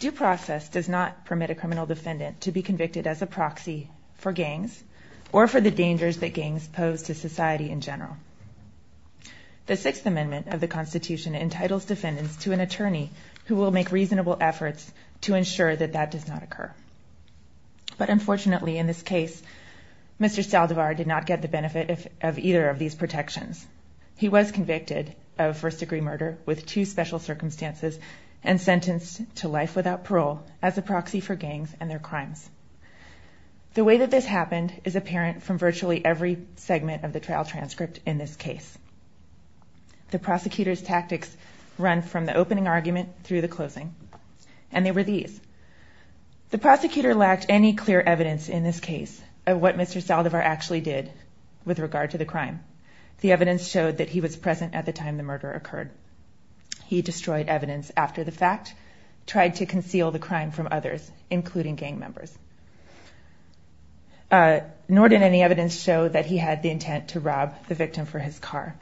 Due process does not permit a criminal defendant to be convicted as a proxy for gangs or for the dangers that gangs pose to society in general. The Sixth Amendment of the Constitution entitles defendants to an attorney who will make reasonable efforts to ensure that that does not occur. But unfortunately, in this case, Mr. Saldivar did not get the benefit of either of these protections. He was convicted of first-degree murder with two special circumstances and sentenced to life without parole as a proxy for gangs and their crimes. The way that this happened is apparent from virtually every segment of the trial transcript in this case. The prosecutor's tactics run from the opening argument through the closing, and they were these. The prosecutor lacked any clear evidence in this case of what Mr. Saldivar actually did with regard to the crime. The evidence showed that he was present at the time the murder occurred. He destroyed evidence after the fact, tried to conceal the crime from others, including gang members. Nor did any evidence show that he had the intent to rob the victim for his car.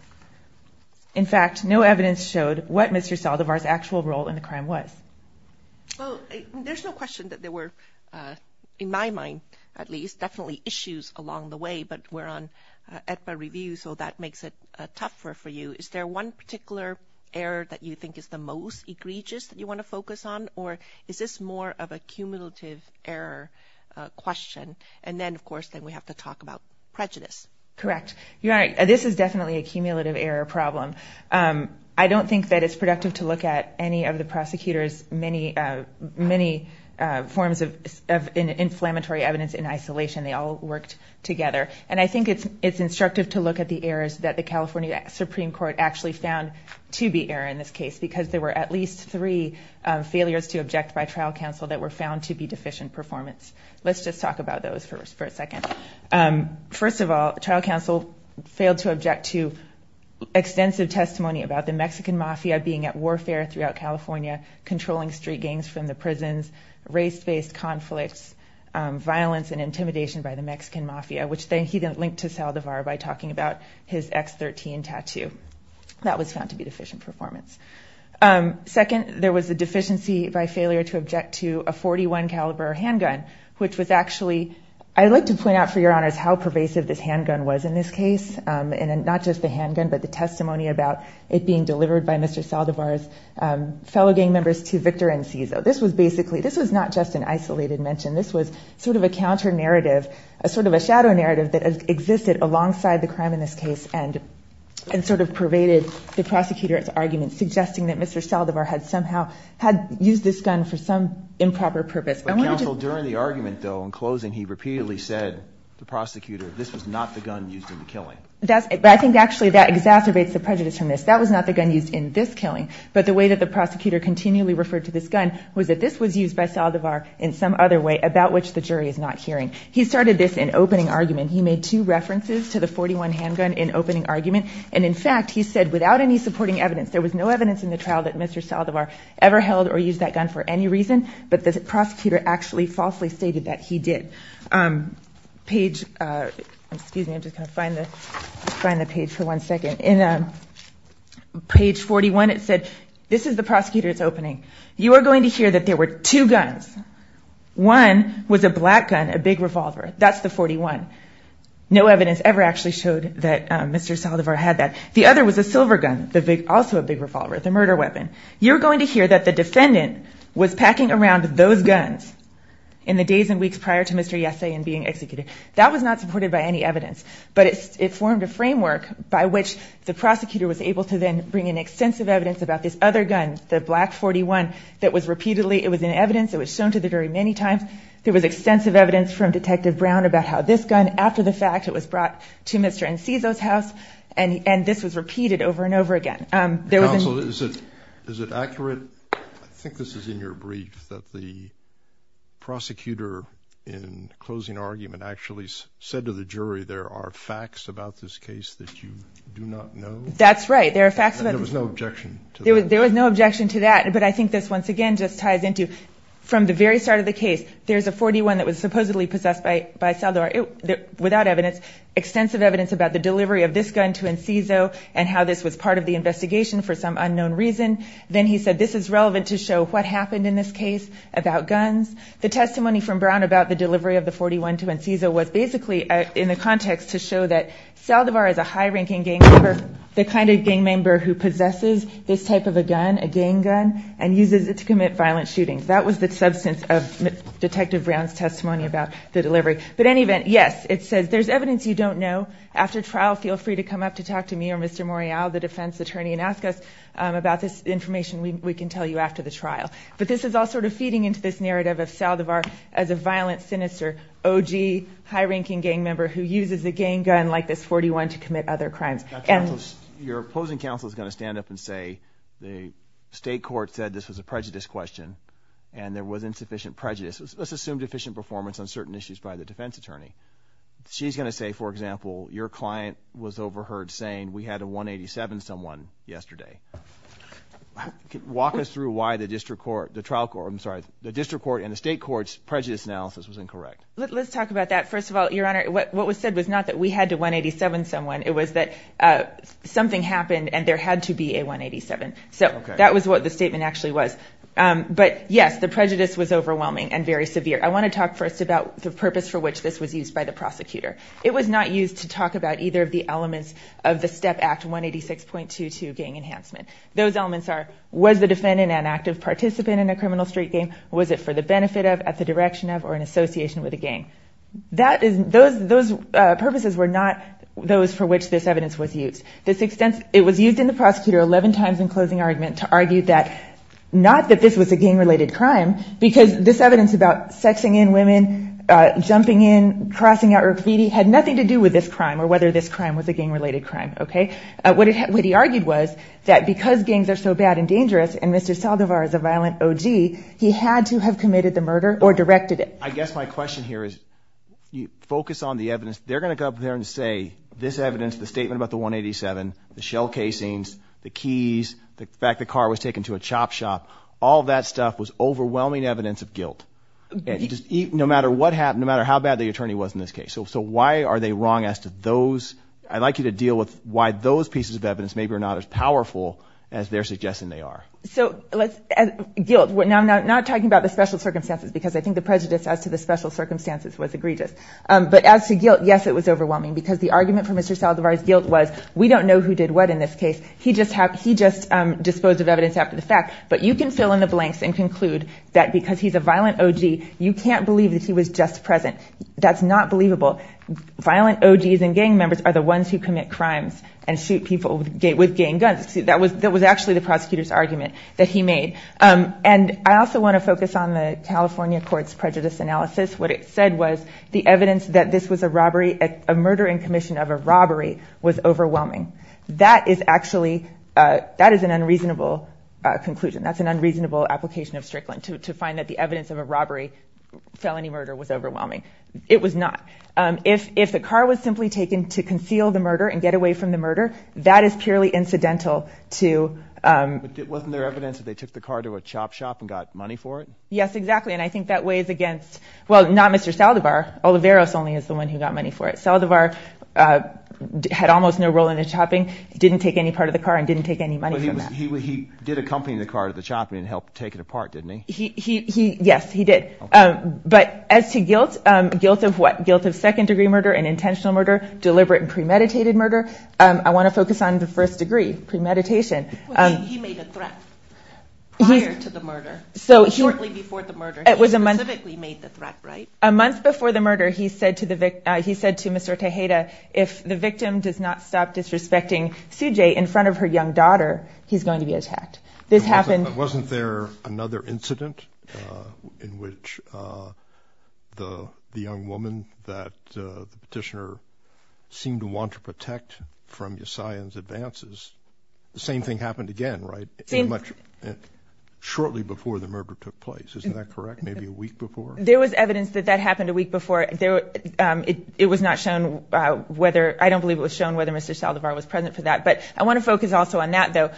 In fact, no evidence showed what Mr. Saldivar's actual role in the crime was. Well, there's no question that there were, in my mind at least, definitely issues along the way, but we're on EPA review, so that makes it tougher for you. Is there one particular error that you think is the most egregious that you want to focus on, or is this more of a cumulative error question, and then of course we have to talk about prejudice? Correct. You're right. This is definitely a cumulative error problem. I don't think that it's productive to look at any of the prosecutor's many forms of inflammatory evidence in isolation. They all worked together, and I think it's instructive to look at the errors that the California Supreme Court actually found to be error in this case, because there were at least three failures to object by trial counsel that were found to be deficient performance. Let's just talk about those for a second. First of all, trial counsel failed to object to extensive testimony about the Mexican Mafia being at warfare throughout California, controlling street gangs from the prisons, race-based conflicts, violence and intimidation by the Mexican Mafia, which he then linked to Saldivar by talking about his X13 tattoo. That was found to be deficient performance. Second, there was a deficiency by failure to object to a .41 caliber handgun, which was actually, I'd like to point out for your honors how pervasive this handgun was in this case, and not just the handgun, but the testimony about it being delivered by Mr. Saldivar's fellow gang members to Victor and Cizo. This was basically, this was not just an isolated mention. This was sort of a counter-narrative, a sort of a shadow narrative that existed alongside the crime in this case and sort of pervaded the prosecutor's argument, suggesting that Mr. Saldivar had somehow, had used this gun for some improper purpose. I wanted to just... But counsel, during the argument though, in closing, he repeatedly said to the prosecutor, this was not the gun used in the killing. I think actually that exacerbates the prejudice from this. That was not the gun used in this killing, but the way that the prosecutor continually referred to this gun was that this was used by Saldivar in some other way about which the jury is not hearing. He started this in opening argument. He made two references to the 41 handgun in opening argument, and in fact, he said, without any supporting evidence, there was no evidence in the trial that Mr. Saldivar ever held or used that gun for any reason, but the prosecutor actually falsely stated that he did. Page... Excuse me, I'm just going to find the page for one second. In page 41, it said, this is the prosecutor's opening. You are going to hear that there were two guns. One was a black gun, a big revolver. That's the 41. No evidence ever actually showed that Mr. Saldivar had that. The other was a silver gun, also a big revolver, the murder weapon. You're going to hear that the defendant was packing around those guns in the days and weeks prior to Mr. Yese and being executed. That was not supported by any evidence, but it formed a framework by which the prosecutor was able to then bring in extensive evidence about this other gun, the black 41, that was repeatedly... It was in evidence. It was shown to the jury many times. There was extensive evidence from Detective Brown about how this gun, after the fact, it was brought to Mr. Enciso's house, and this was repeated over and over again. Counsel, is it accurate? I think this is in your brief, that the prosecutor, in closing argument, actually said to the jury, there are facts about this case that you do not know? That's right. There are facts about... There was no objection to that. There was no objection to that, but I think this, once again, just ties into, from the very start of the case, there's a 41 that was supposedly possessed by Saldivar, without evidence, extensive evidence about the delivery of this gun to Enciso and how this was part of the investigation for some unknown reason. Then he said, this is relevant to show what happened in this case about guns. The testimony from Brown about the delivery of the 41 to Enciso was basically in the context to show that Saldivar is a high-ranking gang member, the kind of gang member who possesses this type of a gun, a gang gun, and uses it to commit violent shootings. That was the substance of Detective Brown's testimony about the delivery. But in any event, yes, it says there's evidence you don't know. After trial, feel free to come up to talk to me or Mr. Morial, the defense attorney, and ask us about this information. We can tell you after the trial. But this is all sort of feeding into this narrative of Saldivar as a violent, sinister, OG, high-ranking gang member who uses a gang gun like this 41 to commit other crimes. Your opposing counsel is going to stand up and say the state court said this was a prejudice question and there was insufficient prejudice, let's assume deficient performance on certain issues by the defense attorney. She's going to say, for example, your client was overheard saying we had a 187 someone yesterday. Walk us through why the district court, the trial court, I'm sorry, the district court and the state court's prejudice analysis was incorrect. Let's talk about that. First of all, Your Honor, what was said was not that we had a 187 someone. It was that something happened and there had to be a 187. So that was what the statement actually was. But yes, the prejudice was overwhelming and very severe. I want to talk first about the purpose for which this was used by the prosecutor. It was not used to talk about either of the elements of the STEP Act 186.22 gang enhancement. Those elements are, was the defendant an active participant in a criminal street game? Was it for the benefit of, at the direction of, or in association with a gang? Those purposes were not those for which this evidence was used. It was used in the prosecutor 11 times in closing argument to argue that, not that this was a gang-related crime, because this evidence about sexing in women, jumping in, crossing out graffiti, had nothing to do with this crime or whether this crime was a gang-related crime. Okay? What he argued was that because gangs are so bad and dangerous and Mr. Saldivar is a violent OG, he had to have committed the murder or directed it. I guess my question here is, focus on the evidence. They're going to go up there and say, this evidence, the statement about the 187, the shell casings, the keys, the fact the car was taken to a chop shop, all that stuff was overwhelming evidence of guilt, no matter what happened, no matter how bad the attorney was in this case. So why are they wrong as to those, I'd like you to deal with why those pieces of evidence maybe are not as powerful as they're suggesting they are. So let's, guilt, now I'm not talking about the special circumstances because I think the prejudice as to the special circumstances was egregious. But as to guilt, yes it was overwhelming because the argument for Mr. Saldivar's guilt was, we don't know who did what in this case, he just disposed of evidence after the fact. But you can fill in the blanks and conclude that because he's a violent OG, you can't believe that he was just present. That's not believable. Violent OGs and gang members are the ones who commit crimes and shoot people with gang guns. That was actually the prosecutor's argument that he made. And I also want to focus on the California court's prejudice analysis. What it said was, the evidence that this was a robbery, a murder in commission of a robbery was overwhelming. That is actually, that is an unreasonable conclusion. That's an unreasonable application of Strickland to find that the evidence of a robbery, felony murder was overwhelming. It was not. If the car was simply taken to conceal the murder and get away from the murder, that is purely incidental to- But wasn't there evidence that they took the car to a chop shop and got money for it? Yes, exactly. And I think that weighs against, well, not Mr. Saldivar, Olivares only is the one who got money for it. Saldivar had almost no role in the chopping, didn't take any part of the car, and didn't take any money from that. But he did accompany the car to the chopping and help take it apart, didn't he? Yes, he did. But as to guilt, guilt of what? Guilt of second degree murder and intentional murder, deliberate and premeditated murder, I want to focus on the first degree, premeditation. He made a threat prior to the murder, shortly before the murder. He specifically made the threat, right? A month before the murder, he said to Mr. Tejeda, if the victim does not stop disrespecting Sujay in front of her young daughter, he's going to be attacked. This happened- Wasn't there another incident in which the young woman that the petitioner seemed to want to protect from Yassayan's advances, the same thing happened again, right? Shortly before the murder took place, isn't that correct? Maybe a week before? There was evidence that that happened a week before. It was not shown whether- I don't believe it was shown whether Mr. Saldivar was present for that. But I want to focus also on that, though.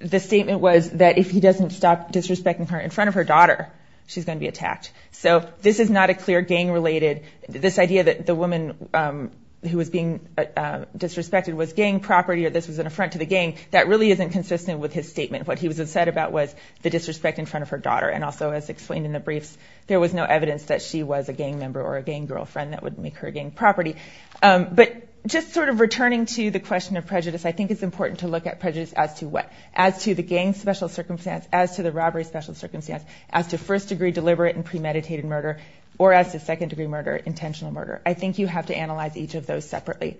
The statement was that if he doesn't stop disrespecting her in front of her daughter, she's going to be attacked. So this is not a clear gang-related- this idea that the woman who was being disrespected was gang property or this was an affront to the gang, that really isn't consistent with his statement. What he was upset about was the disrespect in front of her daughter and also, as explained in the briefs, there was no evidence that she was a gang member or a gang girlfriend that would make her gang property. But just sort of returning to the question of prejudice, I think it's important to look at prejudice as to what? As to the gang's special circumstance, as to the robbery's special circumstance, as to first-degree deliberate and premeditated murder, or as to second-degree murder, intentional murder. I think you have to analyze each of those separately.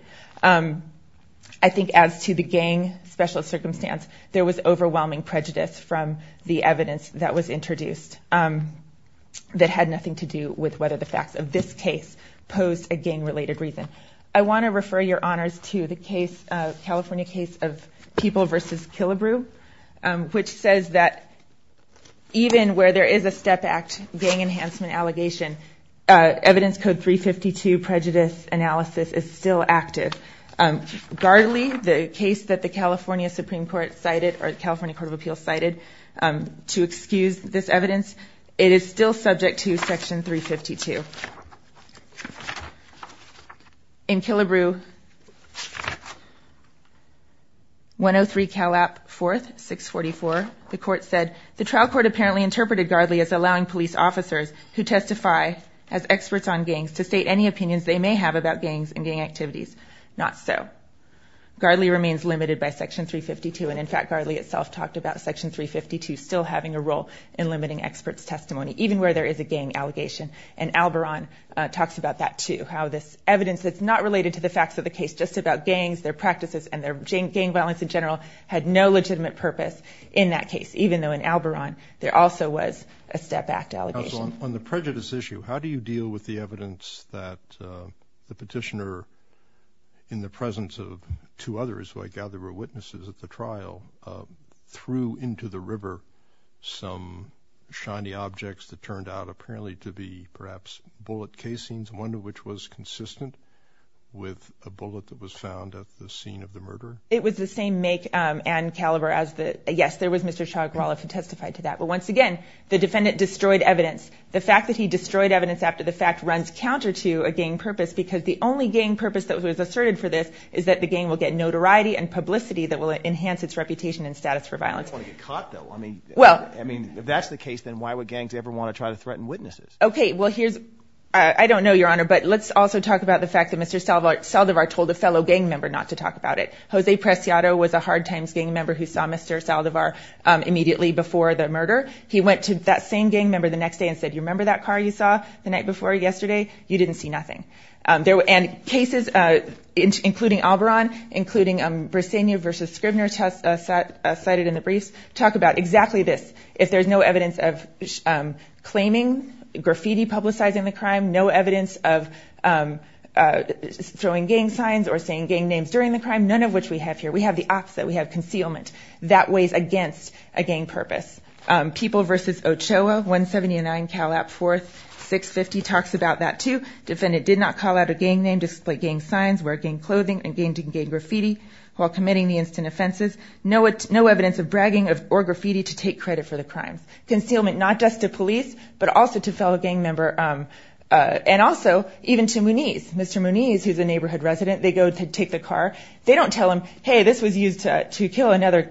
I think as to the gang's special circumstance, there was overwhelming prejudice from the evidence that was introduced that had nothing to do with whether the facts of this case posed a gang-related reason. I want to refer your honors to the California case of People v. Killebrew, which says that even where there is a Step Act gang enhancement allegation, Evidence Code 352 prejudice analysis is still active. Gardley, the case that the California Supreme Court cited, or the California Court of Appeals cited, to excuse this evidence, it is still subject to Section 352. In Killebrew 103 Calap 4th, 644, the court said, the trial court apparently interpreted Gardley as allowing police officers who testify as experts on gangs to state any opinions they may have about gangs and gang activities. Not so. Gardley remains limited by Section 352, and in fact, Gardley itself talked about Section 352 still having a role in limiting experts' testimony, even where there is a gang allegation. And Alboron talks about that, too, how this evidence that's not related to the facts of the case, just about gangs, their practices, and their gang violence in general, had no legitimate purpose in that case, even though in Alboron there also was a Step Act allegation. On the prejudice issue, how do you deal with the evidence that the petitioner, in the presence of two others who I gather were witnesses at the trial, threw into the river some shiny objects that turned out apparently to be, perhaps, bullet casings, one of which was consistent with a bullet that was found at the scene of the murder? It was the same make and caliber as the, yes, there was Mr. Chuck Rolliff who testified to that, but once again, the defendant destroyed evidence. The fact that he destroyed evidence after the fact runs counter to a gang purpose, because the only gang purpose that was asserted for this is that the gang will get notoriety and publicity that will enhance its reputation and status for violence. You don't want to get caught, though. I mean, if that's the case, then why would gangs ever want to try to threaten witnesses? Okay, well, here's, I don't know, Your Honor, but let's also talk about the fact that Mr. Saldivar told a fellow gang member not to talk about it. Jose Preciado was a hard-times gang member who saw Mr. Saldivar immediately before the murder. He went to that same gang member the next day and said, you remember that car you saw the night before yesterday? You didn't see nothing. And cases, including Alboron, including Bresenia v. Scribner cited in the briefs, talk about exactly this. If there's no evidence of claiming graffiti publicizing the crime, no evidence of throwing gang signs or saying gang names during the crime, none of which we have here. We have the opposite. We have concealment. That weighs against a gang purpose. People v. Ochoa, 179 Cal App 4th, 650, talks about that, too. Defendant did not call out a gang name, display gang signs, wear gang clothing, and gang graffiti while committing the instant offenses. No evidence of bragging or graffiti to take credit for the crime. Concealment not just to police, but also to fellow gang member, and also even to Muniz, Mr. Muniz, who's a neighborhood resident. They go to take the car. They don't tell him, hey, this was used to kill another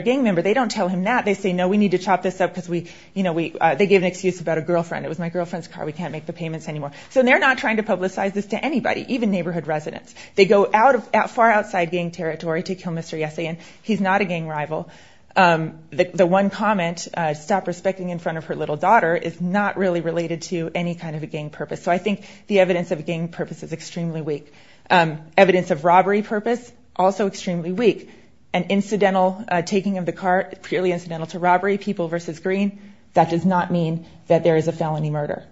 gang member. They don't tell him that. They say, no, we need to chop this up because we, you know, they gave an excuse about a girlfriend. It was my girlfriend's car. We can't make the payments anymore. So they're not trying to publicize this to anybody, even neighborhood residents. They go out of, far outside gang territory to kill Mr. Yesein. He's not a gang rival. The one comment, stop respecting in front of her little daughter, is not really related to any kind of a gang purpose. So I think the evidence of gang purpose is extremely weak. Evidence of robbery purpose, also extremely weak. An incidental taking of the car, purely incidental to robbery, people versus green. That does not mean that there is a felony murder.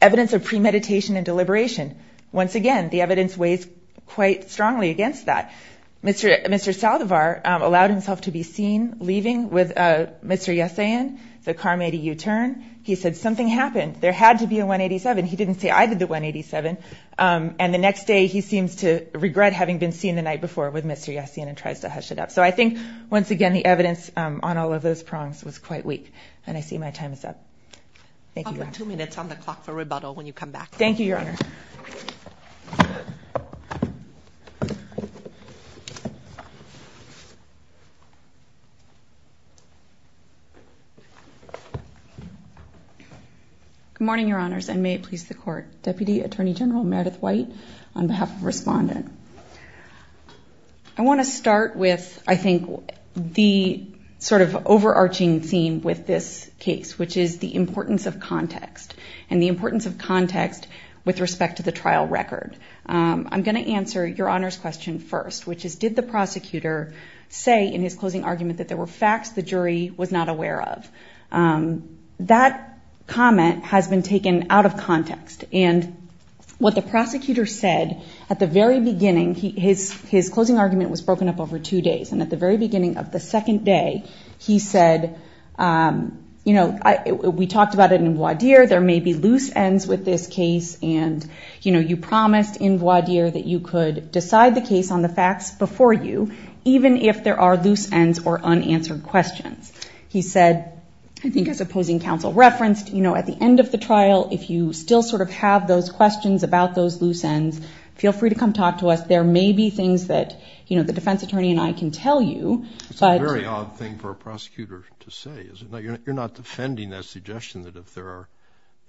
Evidence of premeditation and deliberation. Once again, the evidence weighs quite strongly against that. Mr. Saldivar allowed himself to be seen leaving with Mr. Yesein. The car made a U-turn. He said, something happened. There had to be a 187. He didn't say, I did the 187. And the next day, he seems to regret having been seen the night before with Mr. Yesein and tries to hush it up. So I think, once again, the evidence on all of those prongs was quite weak. And I see my time is up. Thank you. Two minutes on the clock for rebuttal when you come back. Thank you, Your Honor. Good morning, Your Honors, and may it please the court. Deputy Attorney General Meredith White on behalf of Respondent. I want to start with, I think, the sort of overarching theme with this case, which is the importance of context. And the importance of context with respect to the trial record. I'm going to answer Your Honor's question first, which is, did the prosecutor say in his closing argument that there were facts the jury was not aware of? That comment has been taken out of context. And what the prosecutor said at the very beginning, his closing argument was broken up over two days. And at the very beginning of the second day, he said, we talked about it in voir dire, there may be loose ends with this case. And you promised in voir dire that you could decide the case on the facts before you, even if there are loose ends or unanswered questions. He said, I think as opposing counsel referenced, you know, at the end of the trial, if you still sort of have those questions about those loose ends, feel free to come talk to us. There may be things that, you know, the defense attorney and I can tell you. It's a very odd thing for a prosecutor to say, isn't it? You're not defending that suggestion that if there are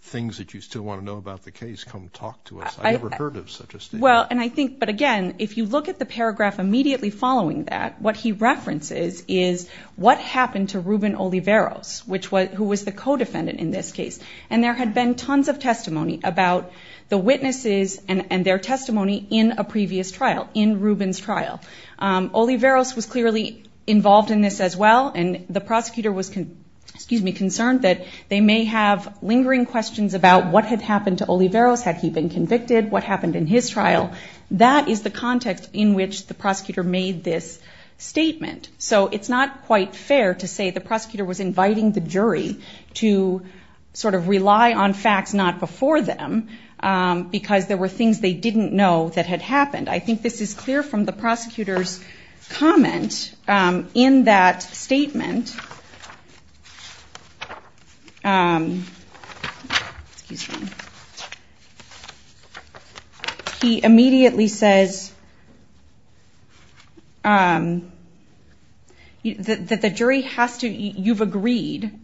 things that you still want to know about the case, come talk to us. I've never heard of such a statement. Well, and I think, but again, if you look at the paragraph immediately following that, what he references is what happened to Ruben Oliveros, which was, who was the co-defendant in this case. And there had been tons of testimony about the witnesses and their testimony in a previous trial, in Ruben's trial. Oliveros was clearly involved in this as well. And the prosecutor was, excuse me, concerned that they may have lingering questions about what had happened to Oliveros. Had he been convicted? What happened in his trial? That is the context in which the prosecutor made this statement. So it's not quite fair to say the prosecutor was inviting the jury to sort of rely on facts not before them because there were things they didn't know that had happened. I think this is clear from the prosecutor's comment. In that statement, excuse me, he immediately says that the jury has to, you've agreed,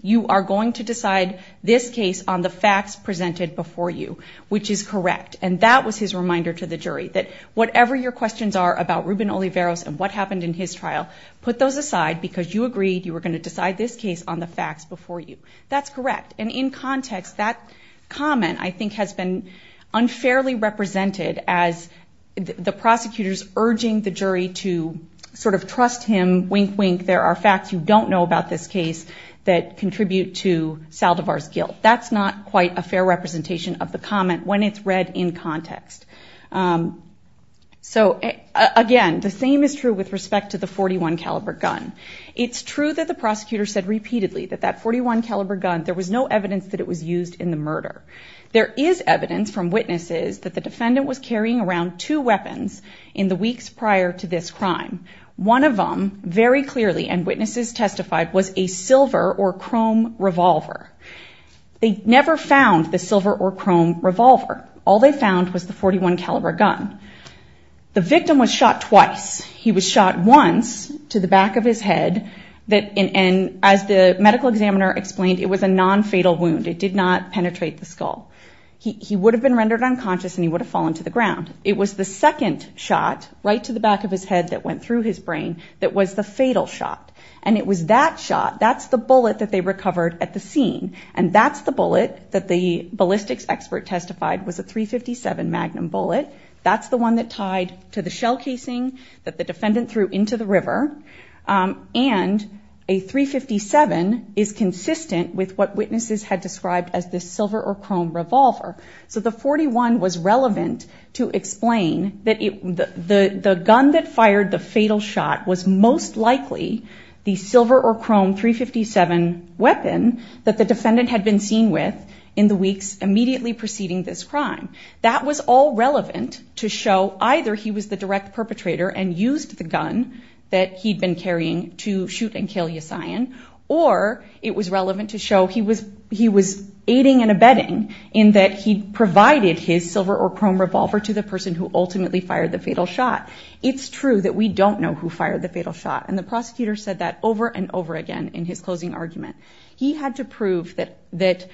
you are going to decide this case on the facts presented before you, which is correct. And that was his reminder to the jury, that whatever your questions are about Ruben Oliveros and what happened in his trial, put those aside because you agreed you were going to decide this case on the facts before you. That's correct. And in context, that comment, I think, has been unfairly represented as the prosecutor's urging the jury to sort of trust him, wink, wink. There are facts you don't know about this case that contribute to Saldivar's guilt. That's not quite a fair representation of the comment when it's read in context. So again, the same is true with respect to the .41 caliber gun. It's true that the prosecutor said repeatedly that that .41 caliber gun, there was no evidence that it was used in the murder. There is evidence from witnesses that the defendant was carrying around two weapons in the weeks prior to this crime. One of them, very clearly, and witnesses testified, was a silver or chrome revolver. They never found the silver or chrome revolver. All they found was the .41 caliber gun. The victim was shot twice. He was shot once to the back of his head, and as the medical examiner explained, it was a non-fatal wound. It did not penetrate the skull. He would have been rendered unconscious, and he would have fallen to the ground. It was the second shot, right to the back of his head that went through his brain, that was the fatal shot. And it was that shot, that's the bullet that they recovered at the scene. And that's the bullet that the ballistics expert testified was a .357 Magnum bullet. That's the one that tied to the shell casing that the defendant threw into the river. And a .357 is consistent with what witnesses had described as the silver or chrome revolver. So the .41 was relevant to explain that the gun that fired the fatal shot was most likely the silver or chrome .357 weapon that the defendant had been seen with in the weeks immediately preceding this crime. That was all relevant to show either he was the direct perpetrator and used the gun that he'd been carrying to shoot and kill Yassayan. Or it was relevant to show he was aiding and abetting in that he provided his silver or chrome revolver to the person who ultimately fired the fatal shot. It's true that we don't know who fired the fatal shot, and the prosecutor said that over and over again in his closing argument. He had to prove that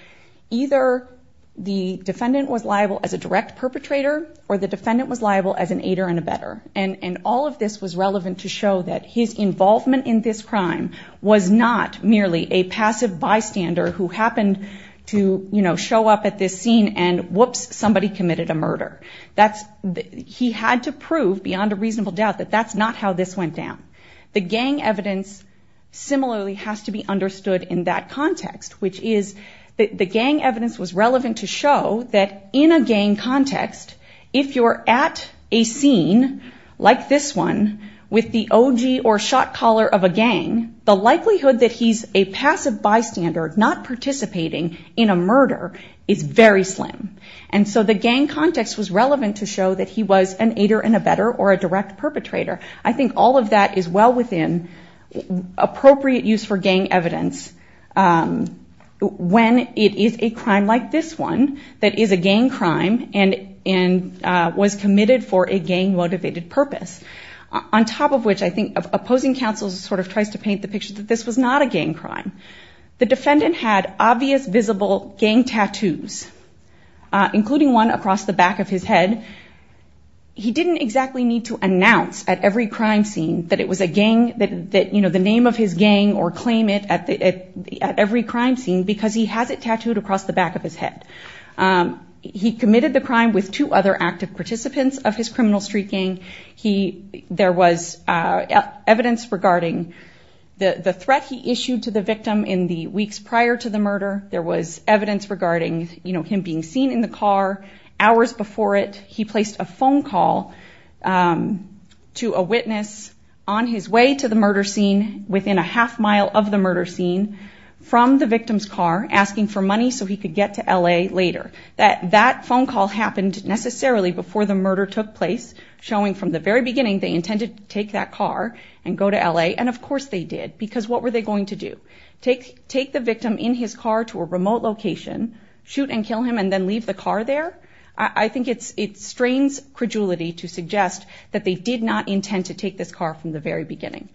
either the defendant was liable as a direct perpetrator, or the defendant was liable as an aider and abetter. And all of this was relevant to show that his involvement in this crime was not merely a passive bystander who happened to, you know, show up at this scene and whoops, somebody committed a murder. That's, he had to prove beyond a reasonable doubt that that's not how this went down. The gang evidence similarly has to be understood in that context, which is the gang evidence was relevant to show that in a gang context, if you're at a scene like this one with the OG or shot caller of a gang, the likelihood that he's a passive bystander not participating in a murder is very slim. And so the gang context was relevant to show that he was an aider and abetter or a direct perpetrator. I think all of that is well within appropriate use for gang evidence when it is a crime like this one that is a gang crime and was committed for a gang motivated purpose. On top of which, I think opposing counsel sort of tries to paint the picture that this was not a gang crime. The defendant had obvious visible gang tattoos, including one across the back of his head. He didn't exactly need to announce at every crime scene that it was a gang that, you know, the name of his gang or claim it at every crime scene because he has it tattooed across the back of his head. He committed the crime with two other active participants of his criminal street gang. There was evidence regarding the threat he issued to the victim in the weeks prior to the murder. There was evidence regarding, you know, him being seen in the car hours before it. He placed a phone call to a witness on his way to the murder scene within a half mile of the murder scene from the victim's car asking for money so he could get to L.A. later. That phone call happened necessarily before the murder took place showing from the very beginning they intended to take that car and go to L.A. And of course they did because what were they going to do? Take the victim in his car to a remote location, shoot and kill him and then leave the car there? I think it strains credulity to suggest that they did not intend to take this car from the very beginning.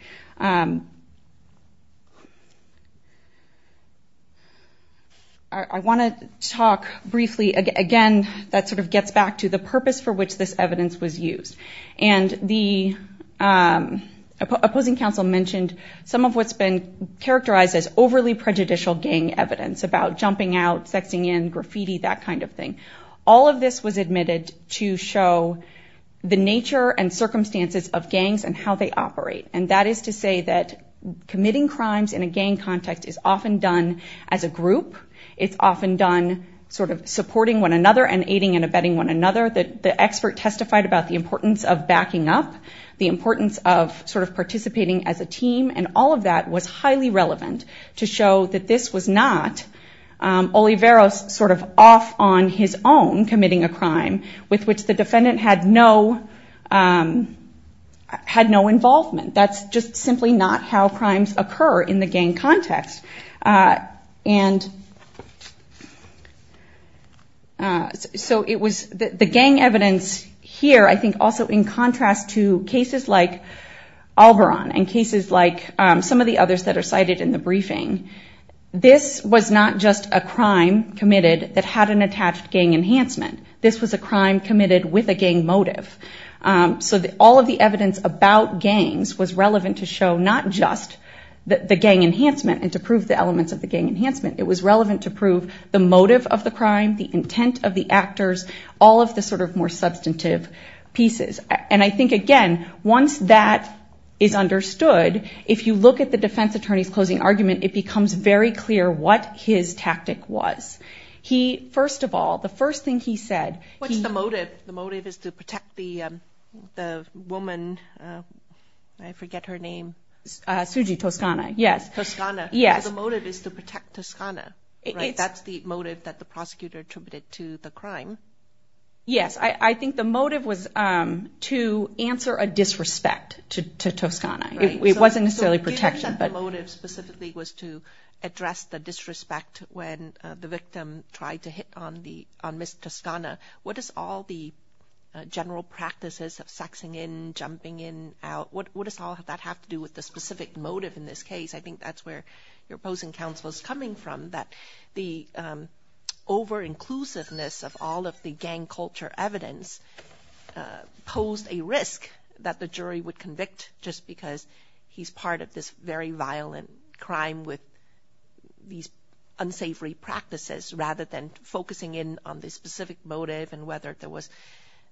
I want to talk briefly again that sort of gets back to the purpose for which this evidence was used. And the opposing counsel mentioned some of what's been characterized as overly prejudicial gang evidence about jumping out, sexing in, graffiti, that kind of thing. All of this was admitted to show the nature and circumstances of gangs and how they operate. And that is to say that committing crimes in a gang context is often done as a group. It's often done sort of supporting one another and aiding and abetting one another. The expert testified about the importance of backing up, the importance of sort of participating as a team. And all of that was highly relevant to show that this was not Oliveros sort of off on his own committing a crime with which the defendant had no involvement. That's just simply not how crimes occur in the gang context. And so it was the gang evidence here I think also in contrast to cases like Alboron and cases like some of the others that are cited in the briefing. This was not just a crime committed that had an attached gang enhancement. This was a crime committed with a gang motive. So all of the evidence about gangs was relevant to show not just the gang enhancement and to prove the elements of the gang enhancement. It was relevant to prove the motive of the crime, the intent of the actors, all of the sort of more substantive pieces. And I think again, once that is understood, if you look at the defense attorney's closing argument, it becomes very clear what his tactic was. He, first of all, the first thing he said. What's the motive? The motive is to protect the woman, I forget her name. Suji Toscana, yes. Toscana. Yes. The motive is to protect Toscana, right? That's the motive that the prosecutor attributed to the crime. Yes. I think the motive was to answer a disrespect to Toscana. It wasn't necessarily protection. So if that motive specifically was to address the disrespect when the victim tried to hit on Ms. Toscana, what does all the general practices of sexing in, jumping in, out, what does all of that have to do with the specific motive in this case? I think that's where your opposing counsel is coming from, that the over-inclusiveness of all of the gang culture evidence posed a risk that the jury would convict just because he's part of this very violent crime with these unsavory practices, rather than focusing in on the specific motive and whether there was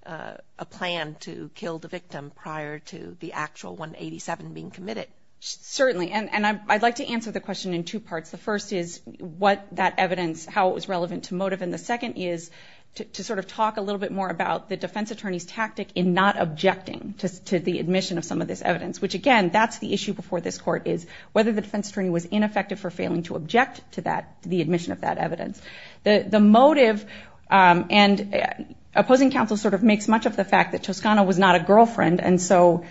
a plan to kill the victim prior to the actual 187 being committed. Certainly. And I'd like to answer the question in two parts. The first is what that evidence, how it was relevant to motive. And the second is to sort of talk a little bit more about the defense attorney's tactic in not objecting to the admission of some of this evidence, which again, that's the issue before this court, is whether the defense attorney was ineffective for failing to object to the admission of that evidence. The motive, and opposing counsel sort of makes much of the fact that Toscana was not a girlfriend, and so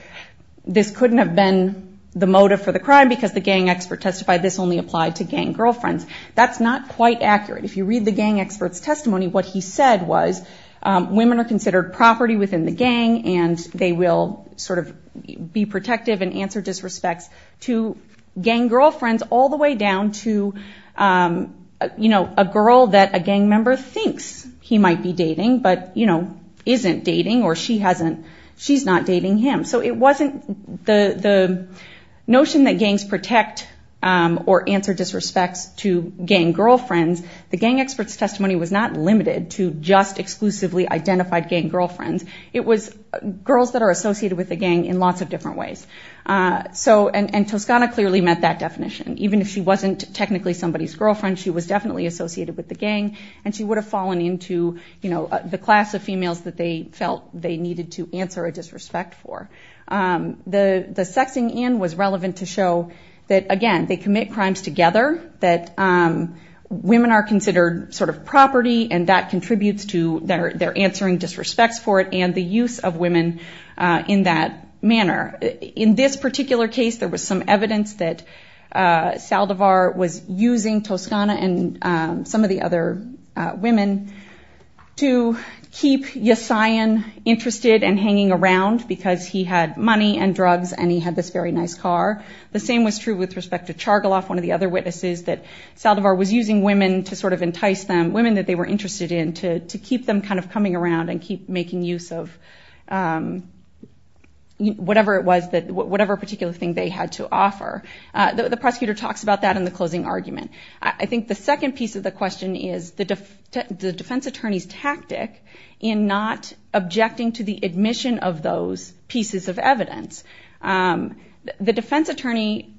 this couldn't have been the motive for the crime because the gang expert testified this only applied to gang girlfriends. That's not quite accurate. If you read the gang expert's testimony, what he said was, women are considered property within the gang and they will sort of be protective and answer disrespects to gang girlfriends all the way down to a girl that a gang member thinks he might be dating, but isn't dating or she's not dating him. So it wasn't the notion that gangs protect or answer disrespects to gang girlfriends. The gang expert's testimony was not limited to just exclusively identified gang girlfriends. It was girls that are associated with the gang in lots of different ways. So, and Toscana clearly met that definition. Even if she wasn't technically somebody's girlfriend, she was definitely associated with the gang and she would have fallen into the class of females that they felt they needed to answer a disrespect for. The sexing in was relevant to show that again, they commit crimes together, that women are considered sort of property and that contributes to their answering disrespects for it and the use of women in that manner. In this particular case, there was some evidence that Saldivar was using Toscana and some of the other women to keep Yesayan interested and hanging around because he had money and drugs and he had this very nice car. The same was true with respect to Chargolov, one of the other witnesses that Saldivar was using women to sort of entice them, women that they were interested in to keep them kind of coming around and keep making use of whatever it was that, whatever particular thing they had to offer. The prosecutor talks about that in the closing argument. I think the second piece of the question is the defense attorney's tactic in not objecting to the admission of those pieces of evidence. The defense attorney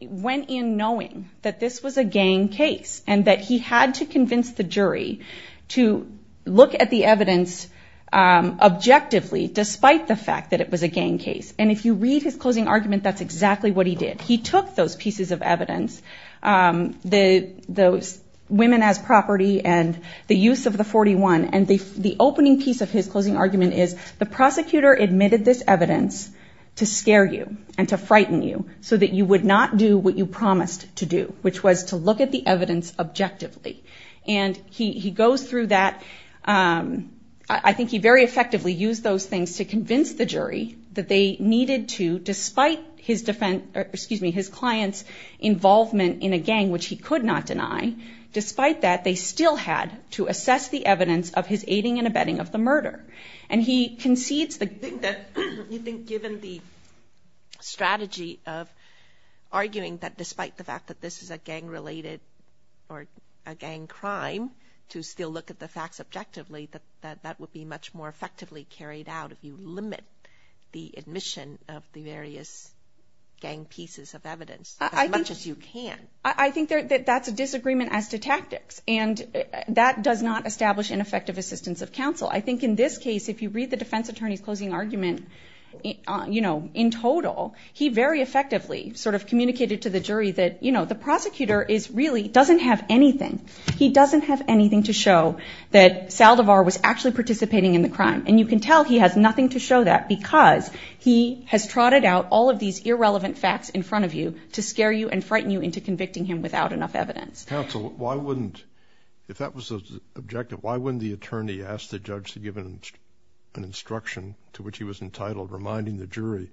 went in knowing that this was a gang case and that he had to convince the jury to look at the evidence objectively despite the fact that it was a gang case. And if you read his closing argument, that's exactly what he did. He took those pieces of evidence, those women as property and the use of the 41 and the opening piece of his closing argument is the prosecutor admitted this evidence to scare you and to frighten you so that you would not do what you promised to do, which was to look at the evidence objectively. And he goes through that. I think he very effectively used those things to convince the jury that they needed to, despite his client's involvement in a gang, which he could not deny, despite that, they still had to assess the evidence of his aiding and abetting of the murder. And he concedes the- You think that, you think given the strategy of arguing that despite the fact that this is a gang related or a gang crime to still look at the facts objectively, that that would be much more effectively carried out if you limit the admission of the various gang pieces of evidence as much as you can. I think that that's a disagreement as to tactics and that does not establish an effective assistance of counsel. I think in this case, if you read the defense attorney's closing argument, you know, in total, he very effectively sort of communicated to the jury that, you know, the prosecutor is really, doesn't have anything. He doesn't have anything to show that Saldivar was actually participating in the crime. And you can tell he has nothing to show that because he has trotted out all of these irrelevant facts in front of you to scare you and frighten you into convicting him without enough evidence. Counsel, why wouldn't, if that was the objective, why wouldn't the attorney ask the judge to give an instruction to which he was entitled, reminding the jury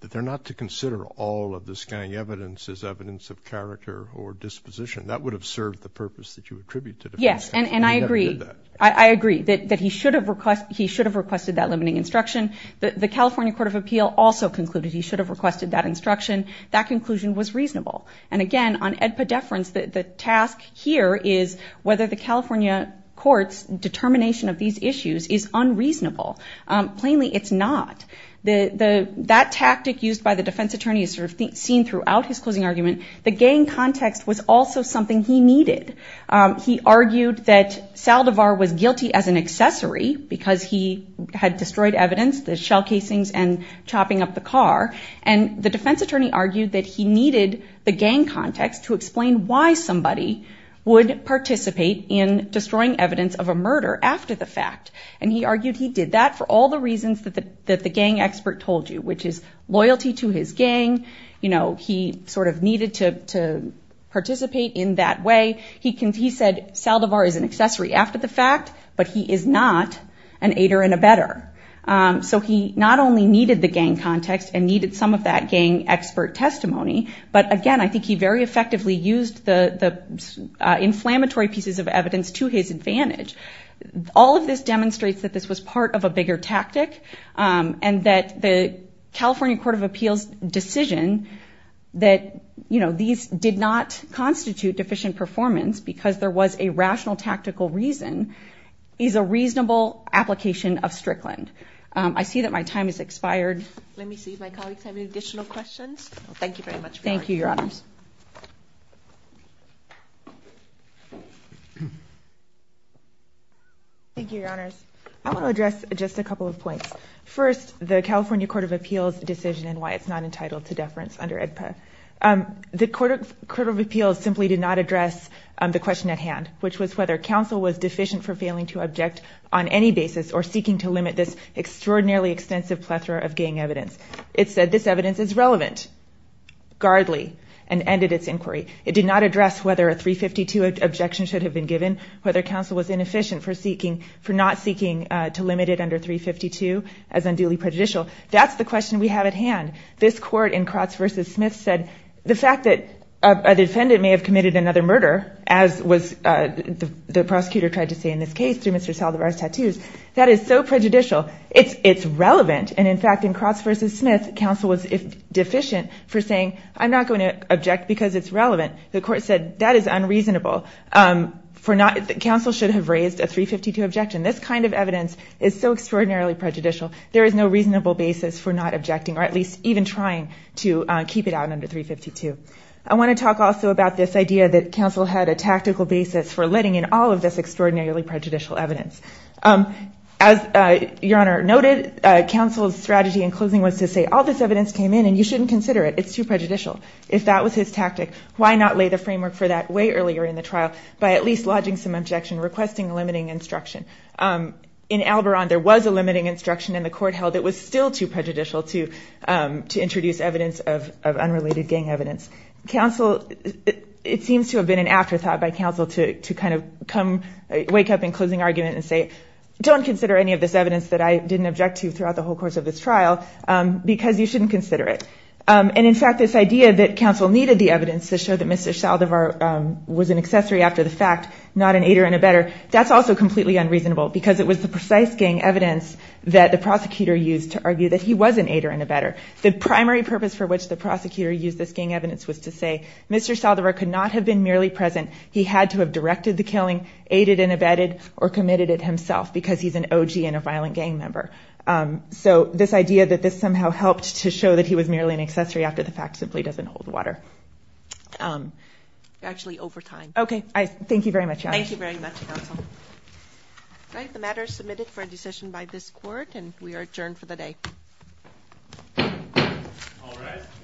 that they're not to consider all of this gang evidence as evidence of character or disposition? That would have served the purpose that you attribute to the defense attorney. Yes, and I agree. I agree that he should have requested that limiting instruction. The California Court of Appeal also concluded he should have requested that instruction. That conclusion was reasonable. And again, on edpedeference, the task here is whether the California court's determination of these issues is unreasonable. Plainly, it's not. That tactic used by the defense attorney is sort of seen throughout his closing argument. The gang context was also something he needed. He argued that Saldivar was guilty as an accessory because he had destroyed evidence, the shell casings and chopping up the car. And the defense attorney argued that he needed the gang context to explain why somebody would participate in destroying evidence of a murder after the fact. And he argued he did that for all the reasons that the gang expert told you, which is loyalty to his gang. He sort of needed to participate in that way. He said Saldivar is an accessory after the fact, but he is not an aider and abetter. So he not only needed the gang context and needed some of that gang expert testimony, but again, I think he very effectively used the inflammatory pieces of evidence to his advantage. All of this demonstrates that this was part of a bigger tactic and that the California Court of Appeals decision that these did not constitute deficient performance because there was a rational tactical reason is a reasonable application of Strickland. I see that my time has expired. Let me see if my colleagues have any additional questions. Thank you very much. Thank you, Your Honors. Thank you, Your Honors. I want to address just a couple of points. First, the California Court of Appeals decision and why it's not entitled to deference under AEDPA. The Court of Appeals simply did not address the question at hand, which was whether counsel was deficient for failing to object on any basis or seeking to limit this extraordinarily extensive plethora of gang evidence. It said this evidence is relevant, guardly, and ended its inquiry. It did not address whether a 352 objection should have been given, whether counsel was inefficient for not seeking to limit it under 352 as unduly prejudicial. That's the question we have at hand. This court in Kratz v. Smith said the fact that a defendant may have committed another murder, as the prosecutor tried to say in this case through Mr. Saldivar's tattoos, that is so prejudicial. It's relevant. And in fact, in Kratz v. Smith, counsel was deficient for saying, I'm not going to object because it's relevant. The court said, that is unreasonable. Counsel should have raised a 352 objection. This kind of evidence is so extraordinarily prejudicial. There is no reasonable basis for not objecting, or at least even trying to keep it out under 352. I want to talk also about this idea that counsel had a tactical basis for letting in all of this extraordinarily prejudicial evidence. As Your Honor noted, counsel's strategy in closing was to say, all this evidence came in, and you shouldn't consider it. It's too prejudicial. If that was his tactic, why not lay the framework for that way earlier in the trial by at least lodging some objection, requesting limiting instruction? In Alboron, there was a limiting instruction, and the court held it was still too prejudicial to introduce evidence of unrelated gang evidence. Counsel, it seems to have been an afterthought by counsel to kind of wake up in closing argument and say, don't consider any of this evidence that I didn't object to throughout the whole course of this trial, because you shouldn't consider it. And in fact, this idea that counsel needed the evidence to show that Mr. Saldivar was an accessory after the fact, not an aider and abetter, that's also completely unreasonable, because it was the precise gang evidence that the prosecutor used to argue that he was an aider and abetter. The primary purpose for which the prosecutor used this gang evidence was to say, Mr. Saldivar could not have been merely present. He had to have directed the killing, aided and abetted, or committed it himself, because he's an OG and a violent gang member. So this idea that this somehow helped to show that he was merely an accessory after the fact simply doesn't hold water. Actually, over time. OK. Thank you very much. Thank you very much, counsel. All right, the matter is submitted for a decision by this court, and we are adjourned for the day.